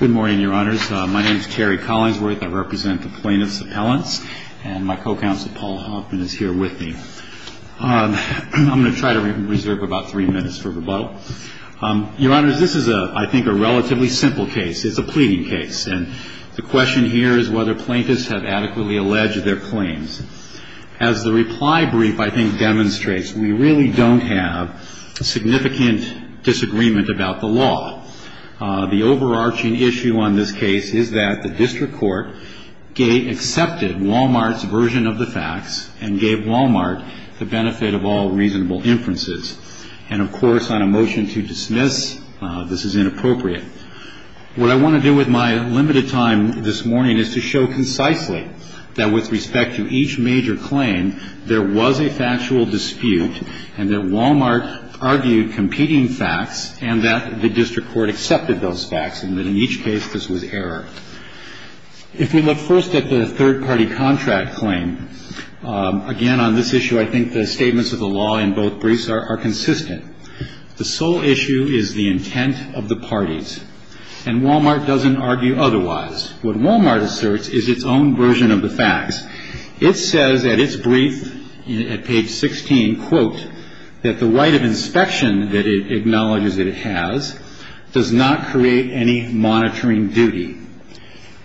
Good morning, Your Honors. My name is Terry Collinsworth. I represent the Plaintiffs' Appellants, and my co-counsel Paul Hoffman is here with me. I'm going to try to reserve about three minutes for rebuttal. Your Honors, this is, I think, a relatively simple case. It's a pleading case, and the question here is whether plaintiffs have adequately alleged their claims. As the reply brief, I think, demonstrates, we really don't have a significant disagreement about the law. The overarching issue on this case is that the district court accepted Wal-Mart's version of the facts and gave Wal-Mart the benefit of all reasonable inferences. And, of course, on a motion to dismiss, this is inappropriate. What I want to do with my limited time this morning is to show concisely that with respect to each major claim, there was a factual dispute, and that Wal-Mart argued competing facts, and that the district court accepted those facts, and that in each case, this was error. If we look first at the third-party contract claim, again, on this issue, I think the statements of the law in both briefs are consistent. The sole issue is the intent of the parties, and Wal-Mart doesn't argue otherwise. What Wal-Mart asserts is its own version of the facts. It says at its brief at page 16, quote, that the right of inspection that it acknowledges that it has does not create any monitoring duty.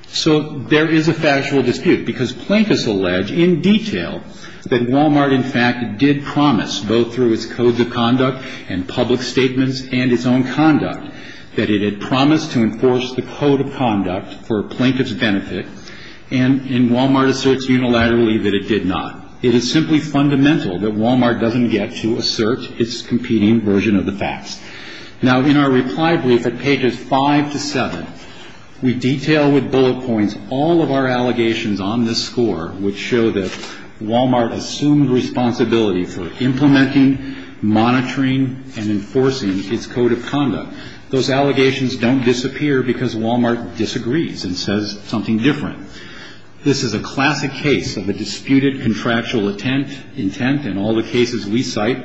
So there is a factual dispute, because plaintiffs allege in detail that Wal-Mart, in fact, did promise, both through its codes of conduct and public statements and its own conduct, that it had promised to enforce the code of conduct for a plaintiff's benefit, and Wal-Mart asserts unilaterally that it did not. It is simply fundamental that Wal-Mart doesn't get to assert its competing version of the facts. Now, in our reply brief at pages 5 to 7, we detail with bullet points all of our allegations on this score, which show that Wal-Mart assumed responsibility for implementing, monitoring, and enforcing its code of conduct. Those allegations don't disappear because Wal-Mart disagrees and says something different. This is a classic case of a disputed contractual intent, and all the cases we cite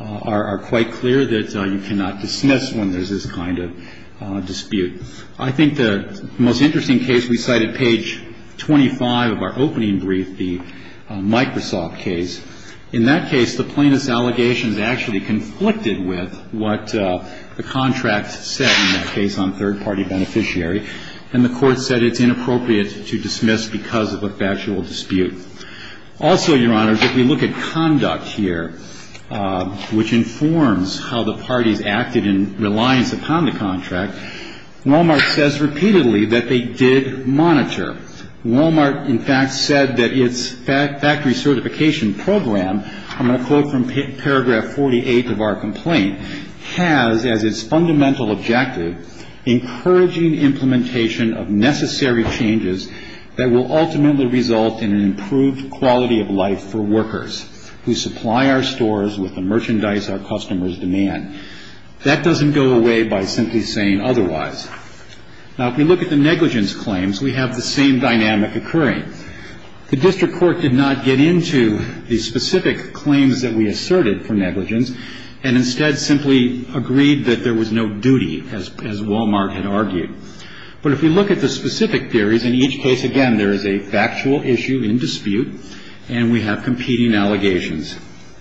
are quite clear that you cannot dismiss when there's this kind of dispute. I think the most interesting case we cite at page 25 of our opening brief, the Microsoft case. In that case, the plaintiff's allegations actually conflicted with what the contract said in that case on third-party beneficiary, and the Court said it's inappropriate to dismiss because of a factual dispute. Also, Your Honors, if we look at conduct here, which informs how the parties acted in reliance upon the contract, Wal-Mart says repeatedly that they did monitor. Wal-Mart, in fact, said that its factory certification program, I'm going to quote from paragraph 48 of our complaint, has as its fundamental objective encouraging implementation of necessary changes that will ultimately result in an improved quality of life for workers who supply our stores with the merchandise our customers demand. That doesn't go away by simply saying otherwise. Now, if we look at the negligence claims, we have the same dynamic occurring. The district court did not get into the specific claims that we asserted for negligence and instead simply agreed that there was no duty, as Wal-Mart had argued. But if we look at the specific theories, in each case, again, there is a factual issue in dispute, and we have competing allegations.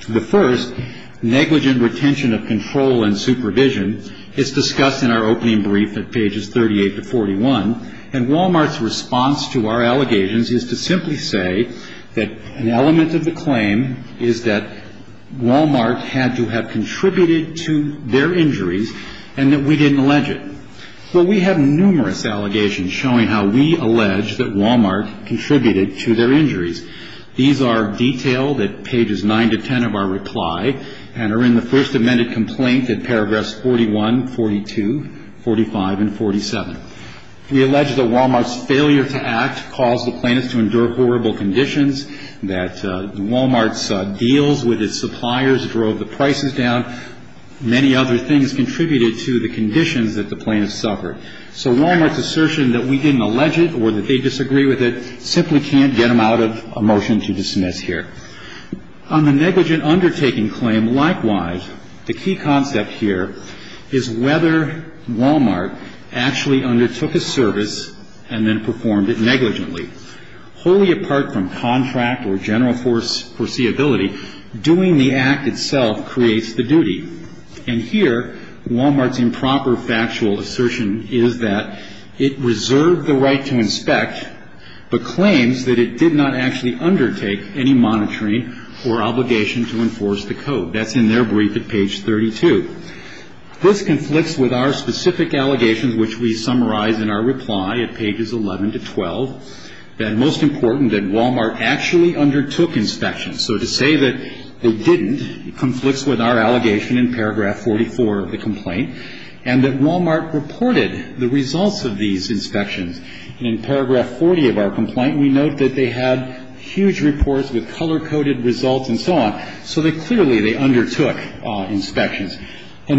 The first, negligent retention of control and supervision, is discussed in our opening brief at pages 38 to 41, and Wal-Mart's response to our allegations is to simply say that an element of the claim is that Wal-Mart had to have contributed to their injuries and that we didn't allege it. Well, we have numerous allegations showing how we allege that Wal-Mart contributed to their injuries. These are detailed at pages 9 to 10 of our reply and are in the first amended complaint at paragraphs 41, 42, 45, and 47. We allege that Wal-Mart's failure to act caused the plaintiffs to endure horrible conditions, that Wal-Mart's deals with its suppliers drove the prices down. Many other things contributed to the conditions that the plaintiffs suffered. So Wal-Mart's assertion that we didn't allege it or that they disagree with it simply can't get them out of a motion to dismiss here. On the negligent undertaking claim, likewise, the key concept here is whether Wal-Mart actually undertook a service and then performed it negligently. Wholly apart from contract or general foreseeability, doing the act itself creates the duty. And here, Wal-Mart's improper factual assertion is that it reserved the right to inspect but claims that it did not actually undertake any monitoring or obligation to enforce the code. That's in their brief at page 32. This conflicts with our specific allegations, which we summarize in our reply at pages 11 to 12, that most important that Wal-Mart actually undertook inspections. So to say that they didn't conflicts with our allegation in paragraph 44 of the complaint and that Wal-Mart reported the results of these inspections. And in paragraph 40 of our complaint, we note that they had huge reports with color-coded results and so on, so that clearly they undertook inspections. We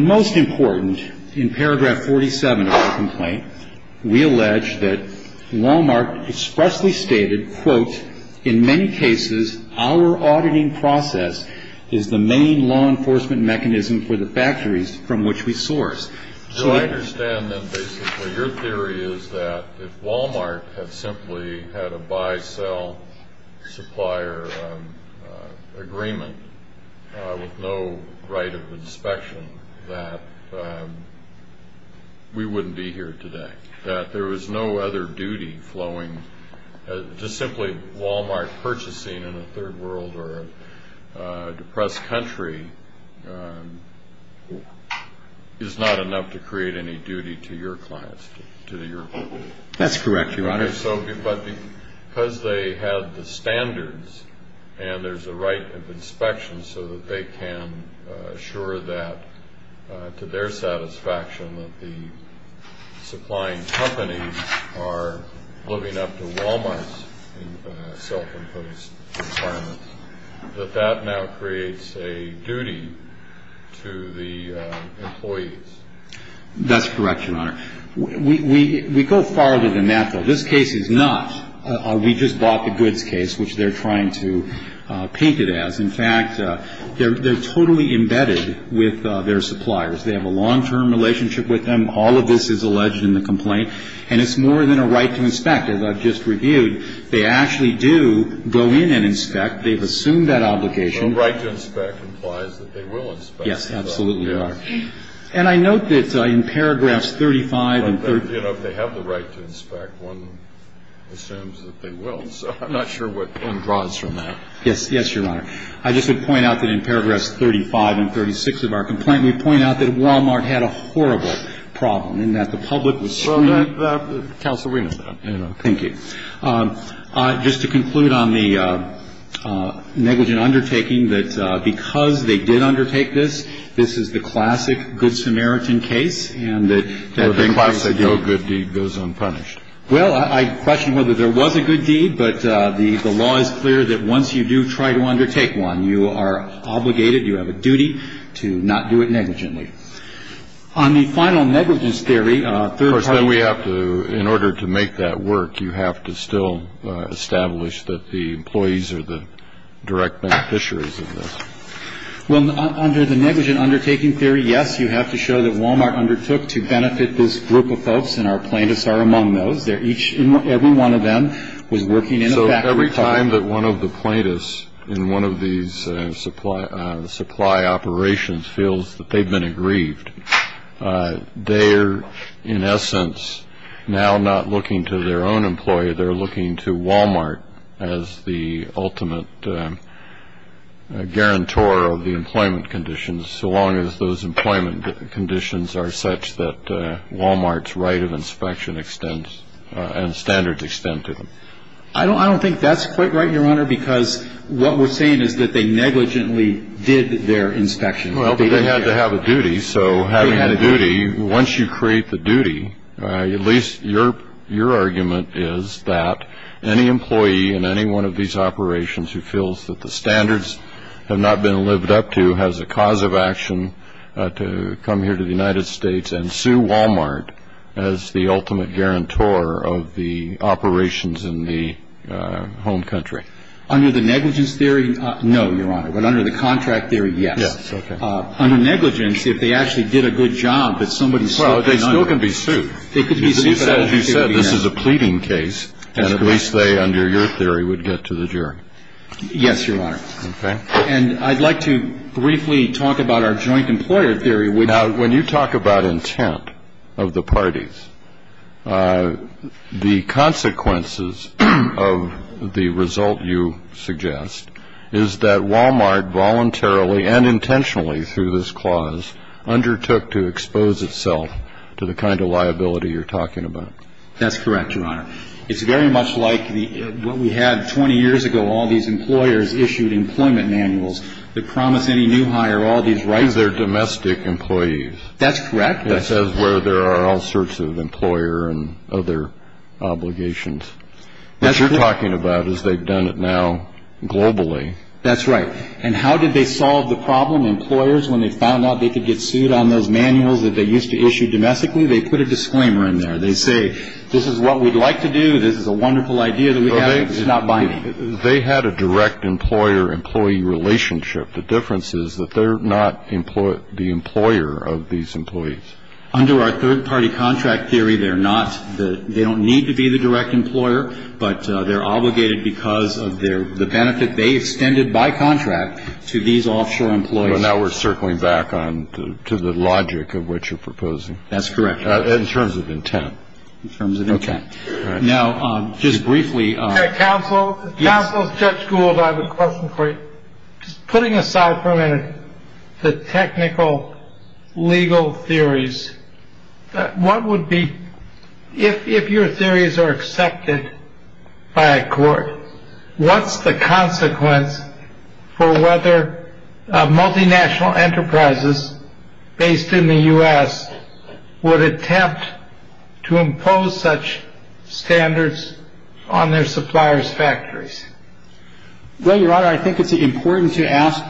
allege that Wal-Mart expressly stated, quote, in many cases our auditing process is the main law enforcement mechanism for the factories from which we source. So I understand that basically your theory is that if Wal-Mart had simply had a buy-sell supplier agreement with no right of inspection, that we wouldn't be here today. That there was no other duty flowing. Just simply Wal-Mart purchasing in a third world or a depressed country is not enough to create any duty to your clients, to your company. That's correct, Your Honor. But because they have the standards and there's a right of inspection so that they can assure that to their satisfaction that the supplying companies are living up to Wal-Mart's self-imposed requirements, that that now creates a duty to the employees. That's correct, Your Honor. We go farther than that, though. This case is not a we-just-bought-the-goods case, which they're trying to paint it as. In fact, they're totally embedded with their suppliers. They have a long-term relationship with them. All of this is alleged in the complaint. And it's more than a right to inspect. As I've just reviewed, they actually do go in and inspect. They've assumed that obligation. Yes, absolutely, Your Honor. And I note that in paragraphs 35 and 30. You know, if they have the right to inspect, one assumes that they will. So I'm not sure what draws from that. Yes. Yes, Your Honor. I just would point out that in paragraphs 35 and 36 of our complaint, we point out that Wal-Mart had a horrible problem in that the public was. Counsel, we know that. Thank you. Just to conclude on the negligent undertaking, that because they did undertake this, this is the classic Good Samaritan case. And that the classic no good deed goes unpunished. Well, I question whether there was a good deed. But the law is clear that once you do try to undertake one, you are obligated, you have a duty to not do it negligently. On the final negligence theory, third party. Of course, then we have to, in order to make that work, you have to still establish that the employees are the direct beneficiaries of this. Well, under the negligent undertaking theory, yes, you have to show that Wal-Mart undertook to benefit this group of folks, and our plaintiffs are among those. Every one of them was working in a factory. So every time that one of the plaintiffs in one of these supply operations feels that they've been aggrieved, they're, in essence, now not looking to their own employee. They're looking to Wal-Mart as the ultimate guarantor of the employment conditions, so long as those employment conditions are such that Wal-Mart's right of inspection extends and standards extend to them. I don't think that's quite right, Your Honor, because what we're saying is that they negligently did their inspection. Well, but they had to have a duty. So having a duty, once you create the duty, at least your argument is that any employee in any one of these operations who feels that the standards have not been lived up to has a cause of action to come here to the United States and sue Wal-Mart as the ultimate guarantor of the operations in the home country. Under the negligence theory, no, Your Honor. But under the contract theory, yes. Under negligence, if they actually did a good job, they could be sued. Well, they still can be sued. They could be sued, but as you said, this is a pleading case, and at least they, under your theory, would get to the jury. Yes, Your Honor. Okay. And I'd like to briefly talk about our joint employer theory. Now, when you talk about intent of the parties, the consequences of the result you suggest is that Wal-Mart voluntarily and intentionally through this clause undertook to expose itself to the kind of liability you're talking about. That's correct, Your Honor. It's very much like what we had 20 years ago, all these employers issued employment manuals that promised any new hire all these rights. These are domestic employees. That's correct. That says where there are all sorts of employer and other obligations. What you're talking about is they've done it now globally. That's right. And how did they solve the problem? Employers, when they found out they could get sued on those manuals that they used to issue domestically, they put a disclaimer in there. They say, this is what we'd like to do. This is a wonderful idea that we have. It's not binding. They had a direct employer-employee relationship. The difference is that they're not the employer of these employees. Under our third-party contract theory, they're not. They don't need to be the direct employer, but they're obligated because of the benefit they extended by contract to these offshore employees. So now we're circling back to the logic of what you're proposing. That's correct. In terms of intent. In terms of intent. Now, just briefly. Counsel, Counsel, Judge Gould, I have a question for you. Putting aside for a minute the technical legal theories, what would be, if your theories are accepted by a court, what's the consequence for whether multinational enterprises based in the U.S. would attempt to impose such standards on their suppliers' factories? Well, Your Honor, I think it's important to ask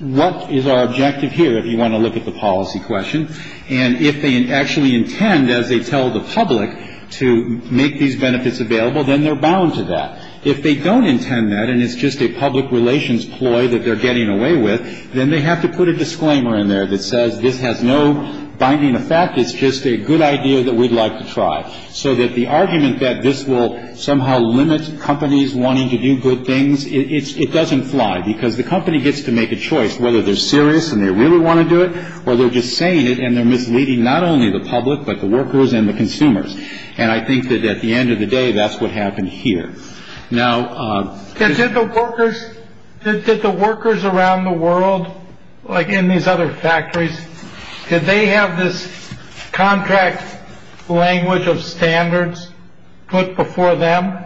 what is our objective here, if you want to look at the policy question. And if they actually intend, as they tell the public, to make these benefits available, then they're bound to that. If they don't intend that and it's just a public relations ploy that they're getting away with, then they have to put a disclaimer in there that says this has no binding effect, it's just a good idea that we'd like to try. So that the argument that this will somehow limit companies wanting to do good things, it doesn't fly because the company gets to make a choice whether they're serious and they really want to do it or they're just saying it and they're misleading not only the public, but the workers and the consumers. And I think that at the end of the day, that's what happened here. Now, did the workers, did the workers around the world, like in these other factories, did they have this contract language of standards put before them?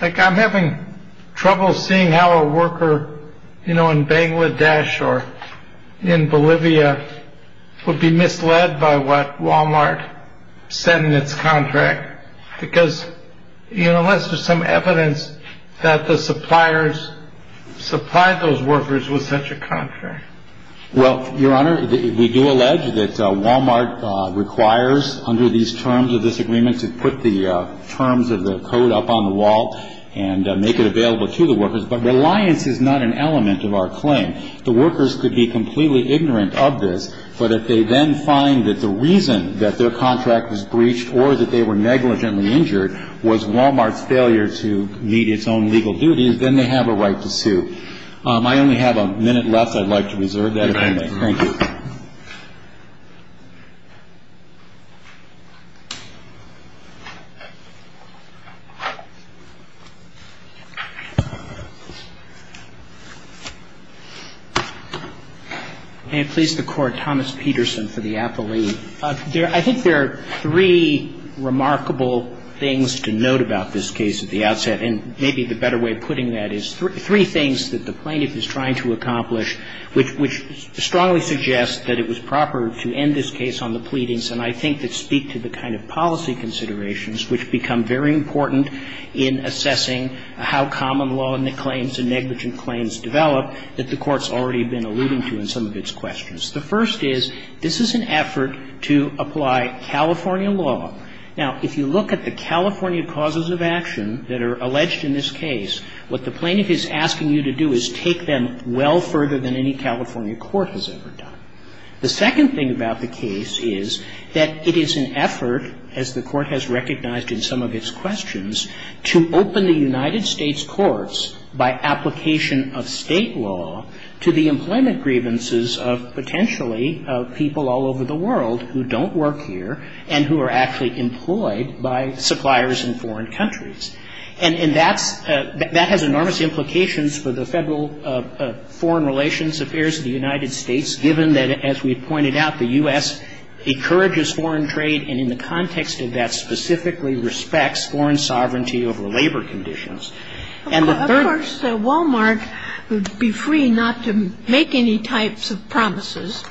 I'm having trouble seeing how a worker, you know, in Bangladesh or in Bolivia would be misled by what Wal-Mart said in its contract. Because, you know, unless there's some evidence that the suppliers supplied those workers with such a contract. Well, your honor, we do allege that Wal-Mart requires under these terms of this agreement to put the terms of the code up on the wall. And make it available to the workers. But reliance is not an element of our claim. The workers could be completely ignorant of this. But if they then find that the reason that their contract was breached or that they were negligently injured was Wal-Mart's failure to meet its own legal duties, then they have a right to sue. I only have a minute left. I'd like to reserve that if I may. Thank you. May it please the Court, Thomas Peterson for the appellee. I think there are three remarkable things to note about this case at the outset. And maybe the better way of putting that is three things that the plaintiff is trying to accomplish, which strongly suggests that it was proper to end this case on the pleadings and I think that speak to the kind of policy considerations which become very important in assessing how common law claims and negligent claims develop that the Court's already been alluding to in some of its questions. The first is, this is an effort to apply California law. Now, if you look at the California causes of action that are alleged in this case, what the plaintiff is asking you to do is take them well further than any California court has ever done. The second thing about the case is that it is an effort, as the Court has recognized in some of its questions, to open the United States courts by application of State law to the employment grievances of potentially people all over the world who don't work here and who are actually employed by suppliers in foreign countries. And that's — that has enormous implications for the Federal Foreign Relations Affairs of the United States, given that, as we pointed out, the U.S. encourages foreign trade and in the context of that specifically respects foreign sovereignty over labor conditions. And the third — Kagan. Of course, Wal-Mart would be free not to make any types of promises.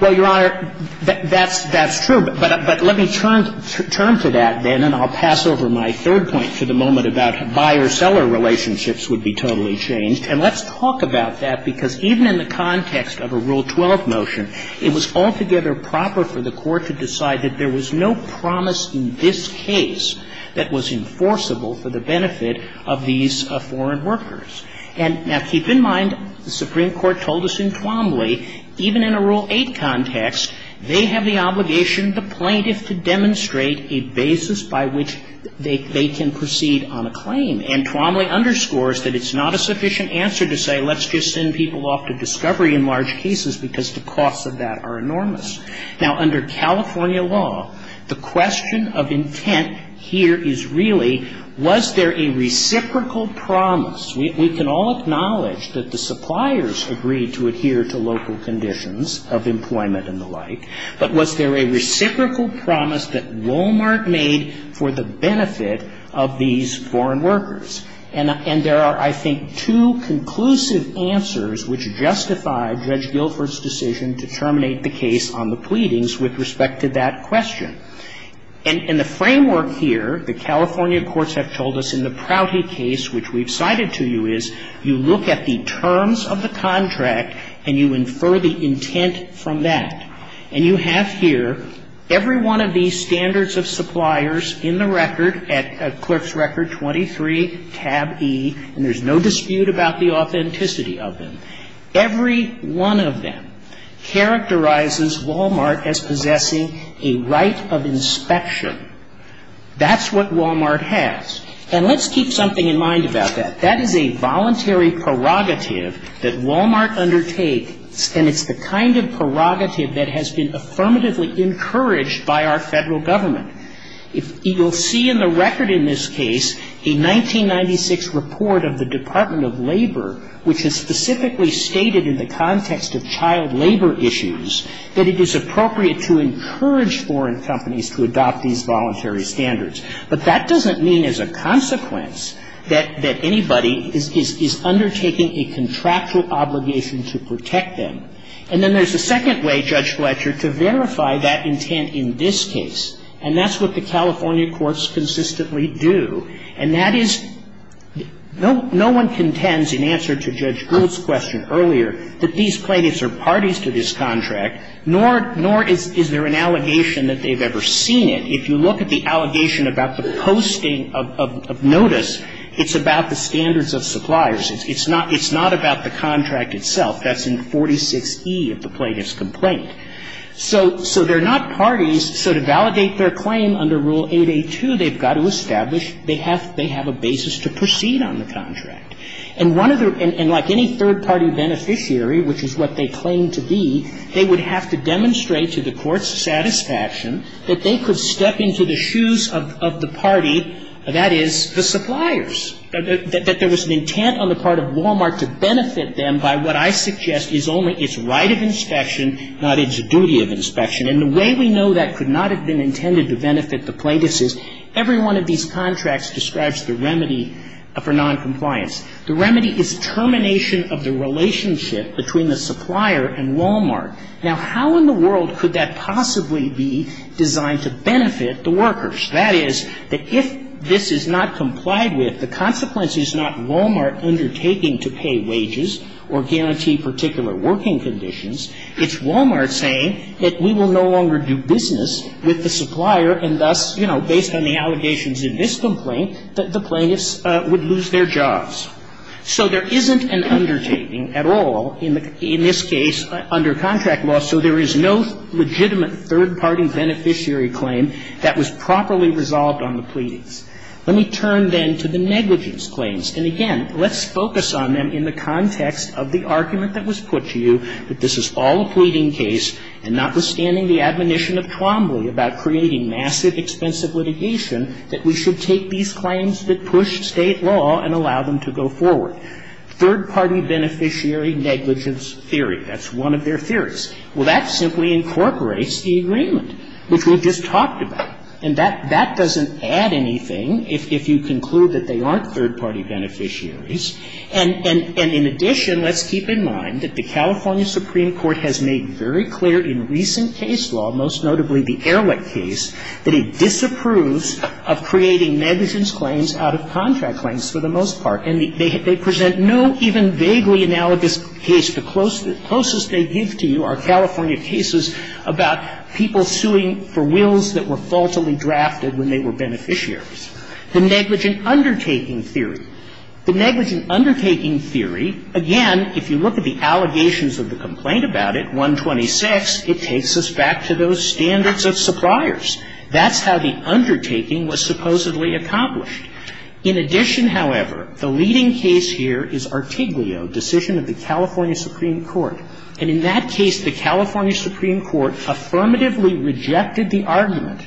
Well, Your Honor, that's true. But let me turn to that, then, and I'll pass over my third point for the moment about buyer-seller relationships would be totally changed. And let's talk about that, because even in the context of a Rule 12 motion, it was altogether proper for the Court to decide that there was no promise in this case that was enforceable for the benefit of these foreign workers. And now, keep in mind, the Supreme Court told us in Twombly, even in a Rule 8 context, they have the obligation, the plaintiff, to demonstrate a basis by which they can proceed on a claim. And Twombly underscores that it's not a sufficient answer to say, let's just send people off to discovery in large cases, because the costs of that are enormous. Now, under California law, the question of intent here is really, was there a reciprocal promise? We can all acknowledge that the suppliers agreed to adhere to local conditions of employment and the like, but was there a reciprocal promise that Walmart made for the benefit of these foreign workers? And there are, I think, two conclusive answers which justify Judge Guilford's decision to terminate the case on the pleadings with respect to that question. And the framework here, the California courts have told us in the Prouty case, which we've cited to you, is you look at the terms of the contract and you infer the intent from that. And you have here every one of these standards of suppliers in the record at Clerk's Record 23, tab E, and there's no dispute about the authenticity of them. Every one of them characterizes Walmart as possessing a right of inspection. That's what Walmart has. And let's keep something in mind about that. That is a voluntary prerogative that Walmart undertakes, and it's the kind of prerogative that has been affirmatively encouraged by our Federal Government. You'll see in the record in this case a 1996 report of the Department of Labor, which has specifically stated in the context of child labor issues that it is appropriate to encourage foreign companies to adopt these voluntary standards. But that doesn't mean as a consequence that anybody is undertaking a contractual obligation to protect them. And then there's a second way, Judge Fletcher, to verify that intent in this case, and that's what the California courts consistently do. And that is no one contends in answer to Judge Gould's question earlier that these plaintiffs are parties to this contract, nor is there an allegation that they've ever seen it. If you look at the allegation about the posting of notice, it's about the standards of suppliers. It's not about the contract itself. That's in 46E of the plaintiff's complaint. So they're not parties. So to validate their claim under Rule 8A2, they've got to establish they have a basis to proceed on the contract. And like any third-party beneficiary, which is what they claim to be, they would have to demonstrate to the court's satisfaction that they could step into the shoes of the party, that is, the suppliers. That there was an intent on the part of Walmart to benefit them by what I suggest is only its right of inspection, not its duty of inspection. And the way we know that could not have been intended to benefit the plaintiffs is every one of these contracts describes the remedy for noncompliance. The remedy is termination of the relationship between the supplier and Walmart. Now, how in the world could that possibly be designed to benefit the workers? That is, that if this is not complied with, the consequence is not Walmart undertaking to pay wages or guarantee particular working conditions. It's Walmart saying that we will no longer do business with the supplier, and thus, you know, based on the allegations in this complaint, the plaintiffs would lose their jobs. So there isn't an undertaking at all in this case under contract law, so there is no legitimate third-party beneficiary claim that was properly resolved on the pleadings. Let me turn then to the negligence claims. And again, let's focus on them in the context of the argument that was put to you that this is all a pleading case, and notwithstanding the admonition of Twombly about creating massive, expensive litigation, that we should take these claims that push State law and allow them to go forward. Third-party beneficiary negligence theory, that's one of their theories. Well, that simply incorporates the agreement, which we've just talked about. And that doesn't add anything if you conclude that they aren't third-party beneficiaries. And in addition, let's keep in mind that the California Supreme Court has made very clear in recent case law, most notably the Ehrlich case, that it disapproves of creating negligence claims out of contract claims for the most part. And they present no even vaguely analogous case. The closest they give to you are California cases about people suing for wills that were faultily drafted when they were beneficiaries. The negligent undertaking theory. The negligent undertaking theory, again, if you look at the allegations of the complaint about it, 126, it takes us back to those standards of suppliers. That's how the undertaking was supposedly accomplished. In addition, however, the leading case here is Artiglio, decision of the California Supreme Court. And in that case, the California Supreme Court affirmatively rejected the argument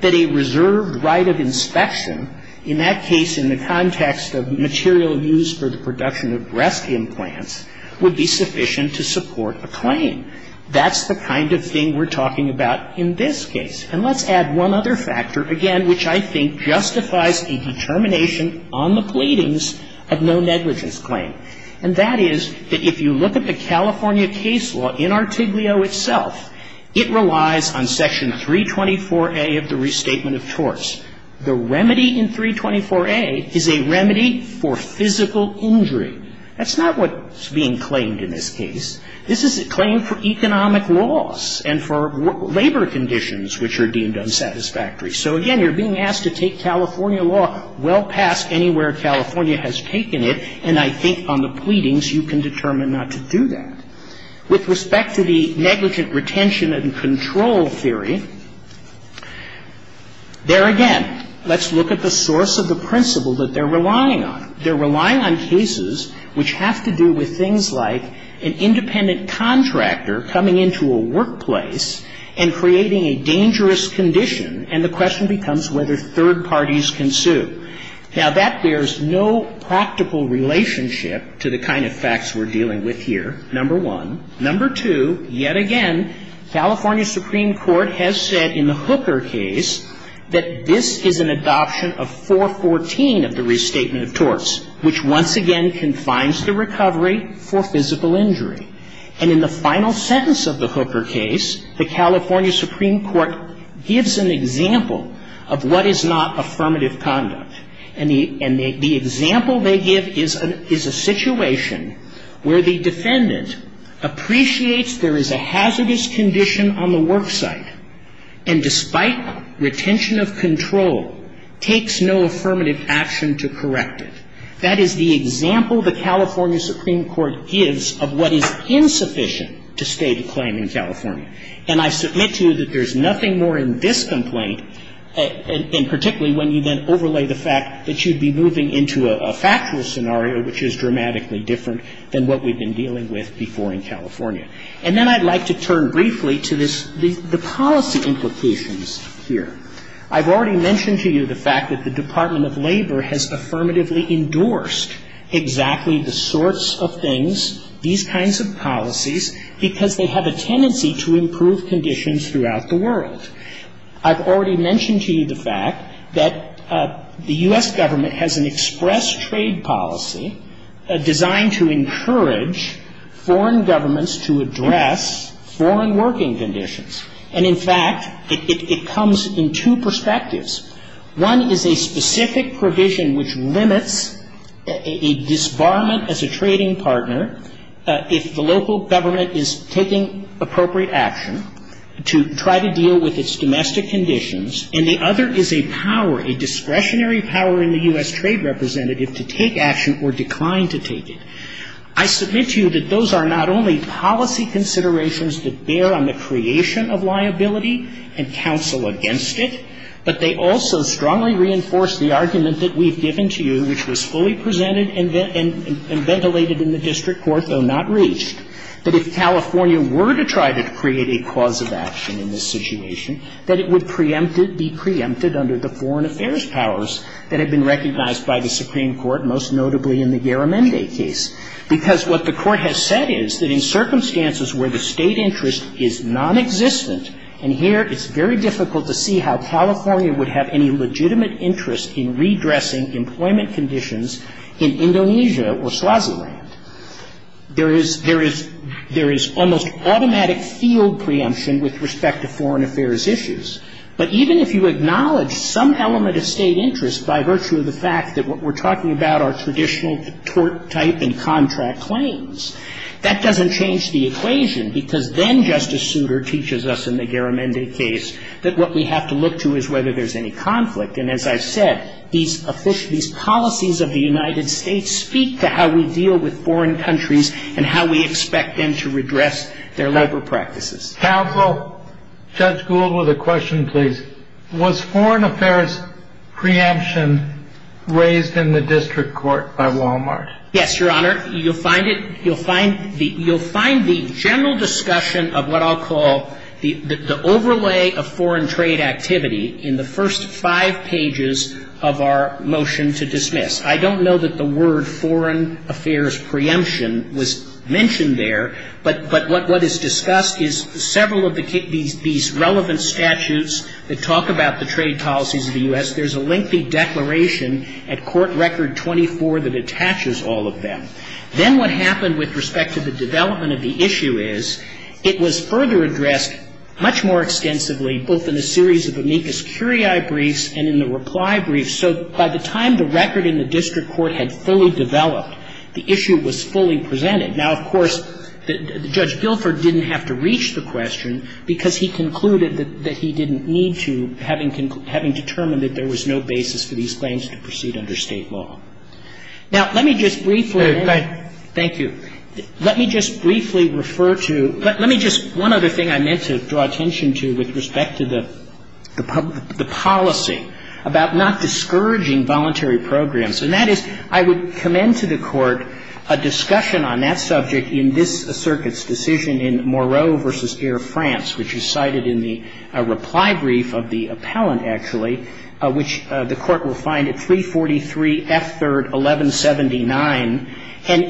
that a reserved right of inspection, in that case in the context of material used for the production of breast implants, would be sufficient to support a claim. That's the kind of thing we're talking about in this case. And let's add one other factor, again, which I think justifies a determination on the pleadings of no negligence claim. And that is that if you look at the California case law in Artiglio itself, it relies on Section 324A of the Restatement of Torts. The remedy in 324A is a remedy for physical injury. That's not what's being claimed in this case. This is a claim for economic loss and for labor conditions which are deemed unsatisfactory. So, again, you're being asked to take California law well past anywhere California has taken it, and I think on the pleadings you can determine not to do that. With respect to the negligent retention and control theory, there again, let's look at the source of the principle that they're relying on. They're relying on cases which have to do with things like an independent contractor coming into a workplace and creating a dangerous condition, and the question becomes whether third parties can sue. Now, that bears no practical relationship to the kind of facts we're dealing with here, number one. Number two, yet again, California Supreme Court has said in the Hooker case that this is an adoption of 414 of the Restatement of Torts, which once again confines the recovery for physical injury. And in the final sentence of the Hooker case, the California Supreme Court gives an example of what is not affirmative conduct. And the example they give is a situation where the defendant appreciates there is a hazardous condition on the worksite, and despite retention of control, takes no affirmative action to correct it. That is the example the California Supreme Court gives of what is insufficient to state a claim in California. And I submit to you that there's nothing more in this complaint, and particularly when you then overlay the fact that you'd be moving into a factual scenario, which is dramatically different than what we've been dealing with before in California. And then I'd like to turn briefly to this, the policy implications here. I've already mentioned to you the fact that the Department of Labor has affirmatively endorsed exactly the sorts of things, these kinds of policies, because they have a tendency to improve conditions throughout the world. I've already mentioned to you the fact that the U.S. Government has an express trade policy designed to encourage foreign governments to address foreign working conditions. And in fact, it comes in two perspectives. One is a specific provision which limits a disbarment as a trading partner if the local and the other is a power, a discretionary power in the U.S. trade representative to take action or decline to take it. I submit to you that those are not only policy considerations that bear on the creation of liability and counsel against it, but they also strongly reinforce the argument that we've given to you, which was fully presented and ventilated in the district court, though not reached, that if California were to try to create a cause of action in this situation, that it would be preempted under the foreign affairs powers that have been recognized by the Supreme Court, most notably in the Yaramende case. Because what the Court has said is that in circumstances where the State interest is nonexistent, and here it's very difficult to see how California would have any legitimate interest in redressing employment conditions in Indonesia or Swaziland, there is almost automatic field preemption with respect to foreign affairs issues. But even if you acknowledge some element of State interest by virtue of the fact that what we're talking about are traditional tort type and contract claims, that doesn't change the equation, because then Justice Souter teaches us in the Yaramende case that what we have to look to is whether there's any conflict. And as I've said, these policies of the United States speak to how we deal with foreign countries and how we expect them to redress their labor practices. Counsel, Judge Gould with a question, please. Was foreign affairs preemption raised in the district court by Wal-Mart? Yes, Your Honor. You'll find it. You'll find the general discussion of what I'll call the overlay of foreign trade activity in the first five pages of our motion to dismiss. I don't know that the word foreign affairs preemption was mentioned there. But what is discussed is several of these relevant statutes that talk about the trade policies of the U.S. There's a lengthy declaration at Court Record 24 that attaches all of them. Then what happened with respect to the development of the issue is it was further addressed much more extensively both in a series of amicus curiae briefs and in the reply briefs. And so by the time the record in the district court had fully developed, the issue was fully presented. Now, of course, Judge Guilford didn't have to reach the question because he concluded that he didn't need to, having determined that there was no basis for these claims to proceed under State law. Now, let me just briefly. Go ahead. Thank you. Let me just briefly refer to — let me just — one other thing I meant to draw attention to with respect to the policy about not discouraging voluntary programs. And that is I would commend to the Court a discussion on that subject in this circuit's decision in Moreau v. Air France, which is cited in the reply brief of the appellant, actually, which the Court will find at 343 F. 3rd, 1179. And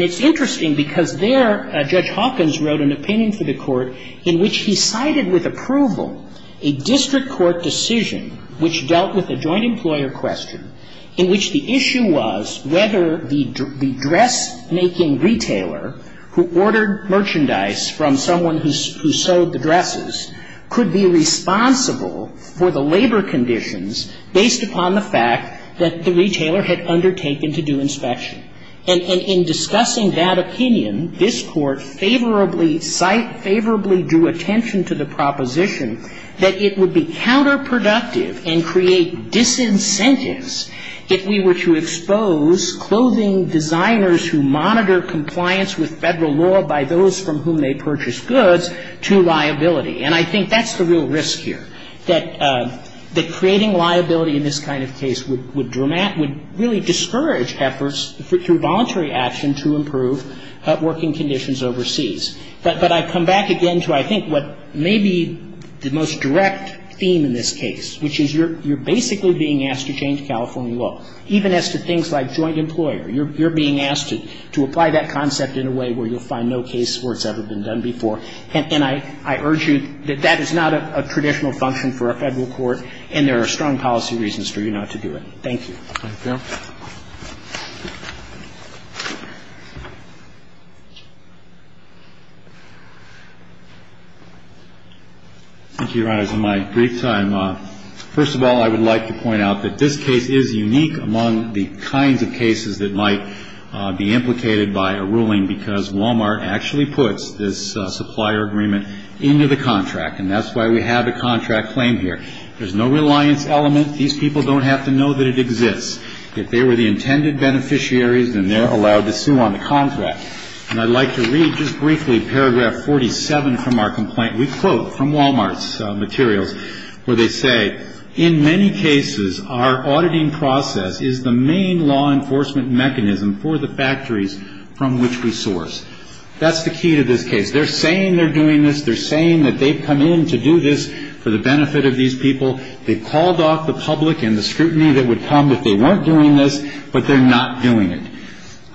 it's interesting because there Judge Hawkins wrote an opinion for the Court in which he cited with approval a district court decision which dealt with a joint employer question in which the issue was whether the dressmaking retailer who ordered merchandise from someone who sewed the dresses could be responsible for the labor conditions based upon the fact that the retailer had undertaken to do inspection. And in discussing that opinion, this Court favorably cite — favorably drew attention to the proposition that it would be counterproductive and create disincentives if we were to expose clothing designers who monitor compliance with Federal law by those from whom they purchase goods to liability. And I think that's the real risk here, that creating liability in this kind of case would really discourage efforts through voluntary action to improve working conditions overseas. But I come back again to I think what may be the most direct theme in this case, which is you're basically being asked to change California law, even as to things like joint employer. You're being asked to apply that concept in a way where you'll find no case where it's ever been done before. And I urge you that that is not a traditional function for a Federal court and there are strong policy reasons for you not to do it. Thank you. Thank you. Thank you, Your Honors. In my brief time, first of all, I would like to point out that this case is unique among the kinds of cases that might be implicated by a ruling because Walmart actually puts this supplier agreement into the contract, and that's why we have a contract claim here. There's no reliance element. These people don't have to know that it exists. If they were the intended beneficiaries, then they're allowed to sue on the contract. And I'd like to read just briefly paragraph 47 from our complaint. We quote from Walmart's materials where they say, In many cases, our auditing process is the main law enforcement mechanism for the factories from which we source. That's the key to this case. They're saying they're doing this. They're saying that they've come in to do this for the benefit of these people. They've called off the public and the scrutiny that would come if they weren't doing this, but they're not doing it.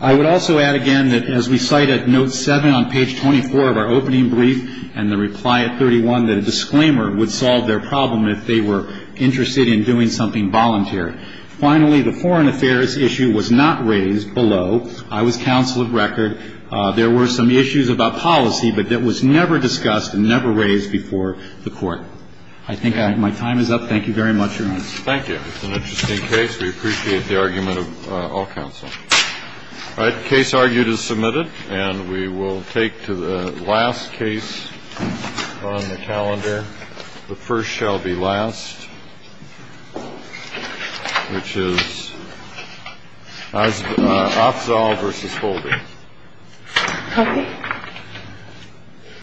I would also add again that as we cite at note 7 on page 24 of our opening brief and the reply at 31, that a disclaimer would solve their problem if they were interested in doing something voluntary. Finally, the foreign affairs issue was not raised below. I was counsel of record. There were some issues about policy, but that was never discussed and never raised before the court. I think my time is up. Thank you very much, Your Honor. Thank you. It's an interesting case. We appreciate the argument of all counsel. All right. The case argued is submitted. And we will take to the last case on the calendar. The first shall be last, which is Afzal v. Holder. Thank you.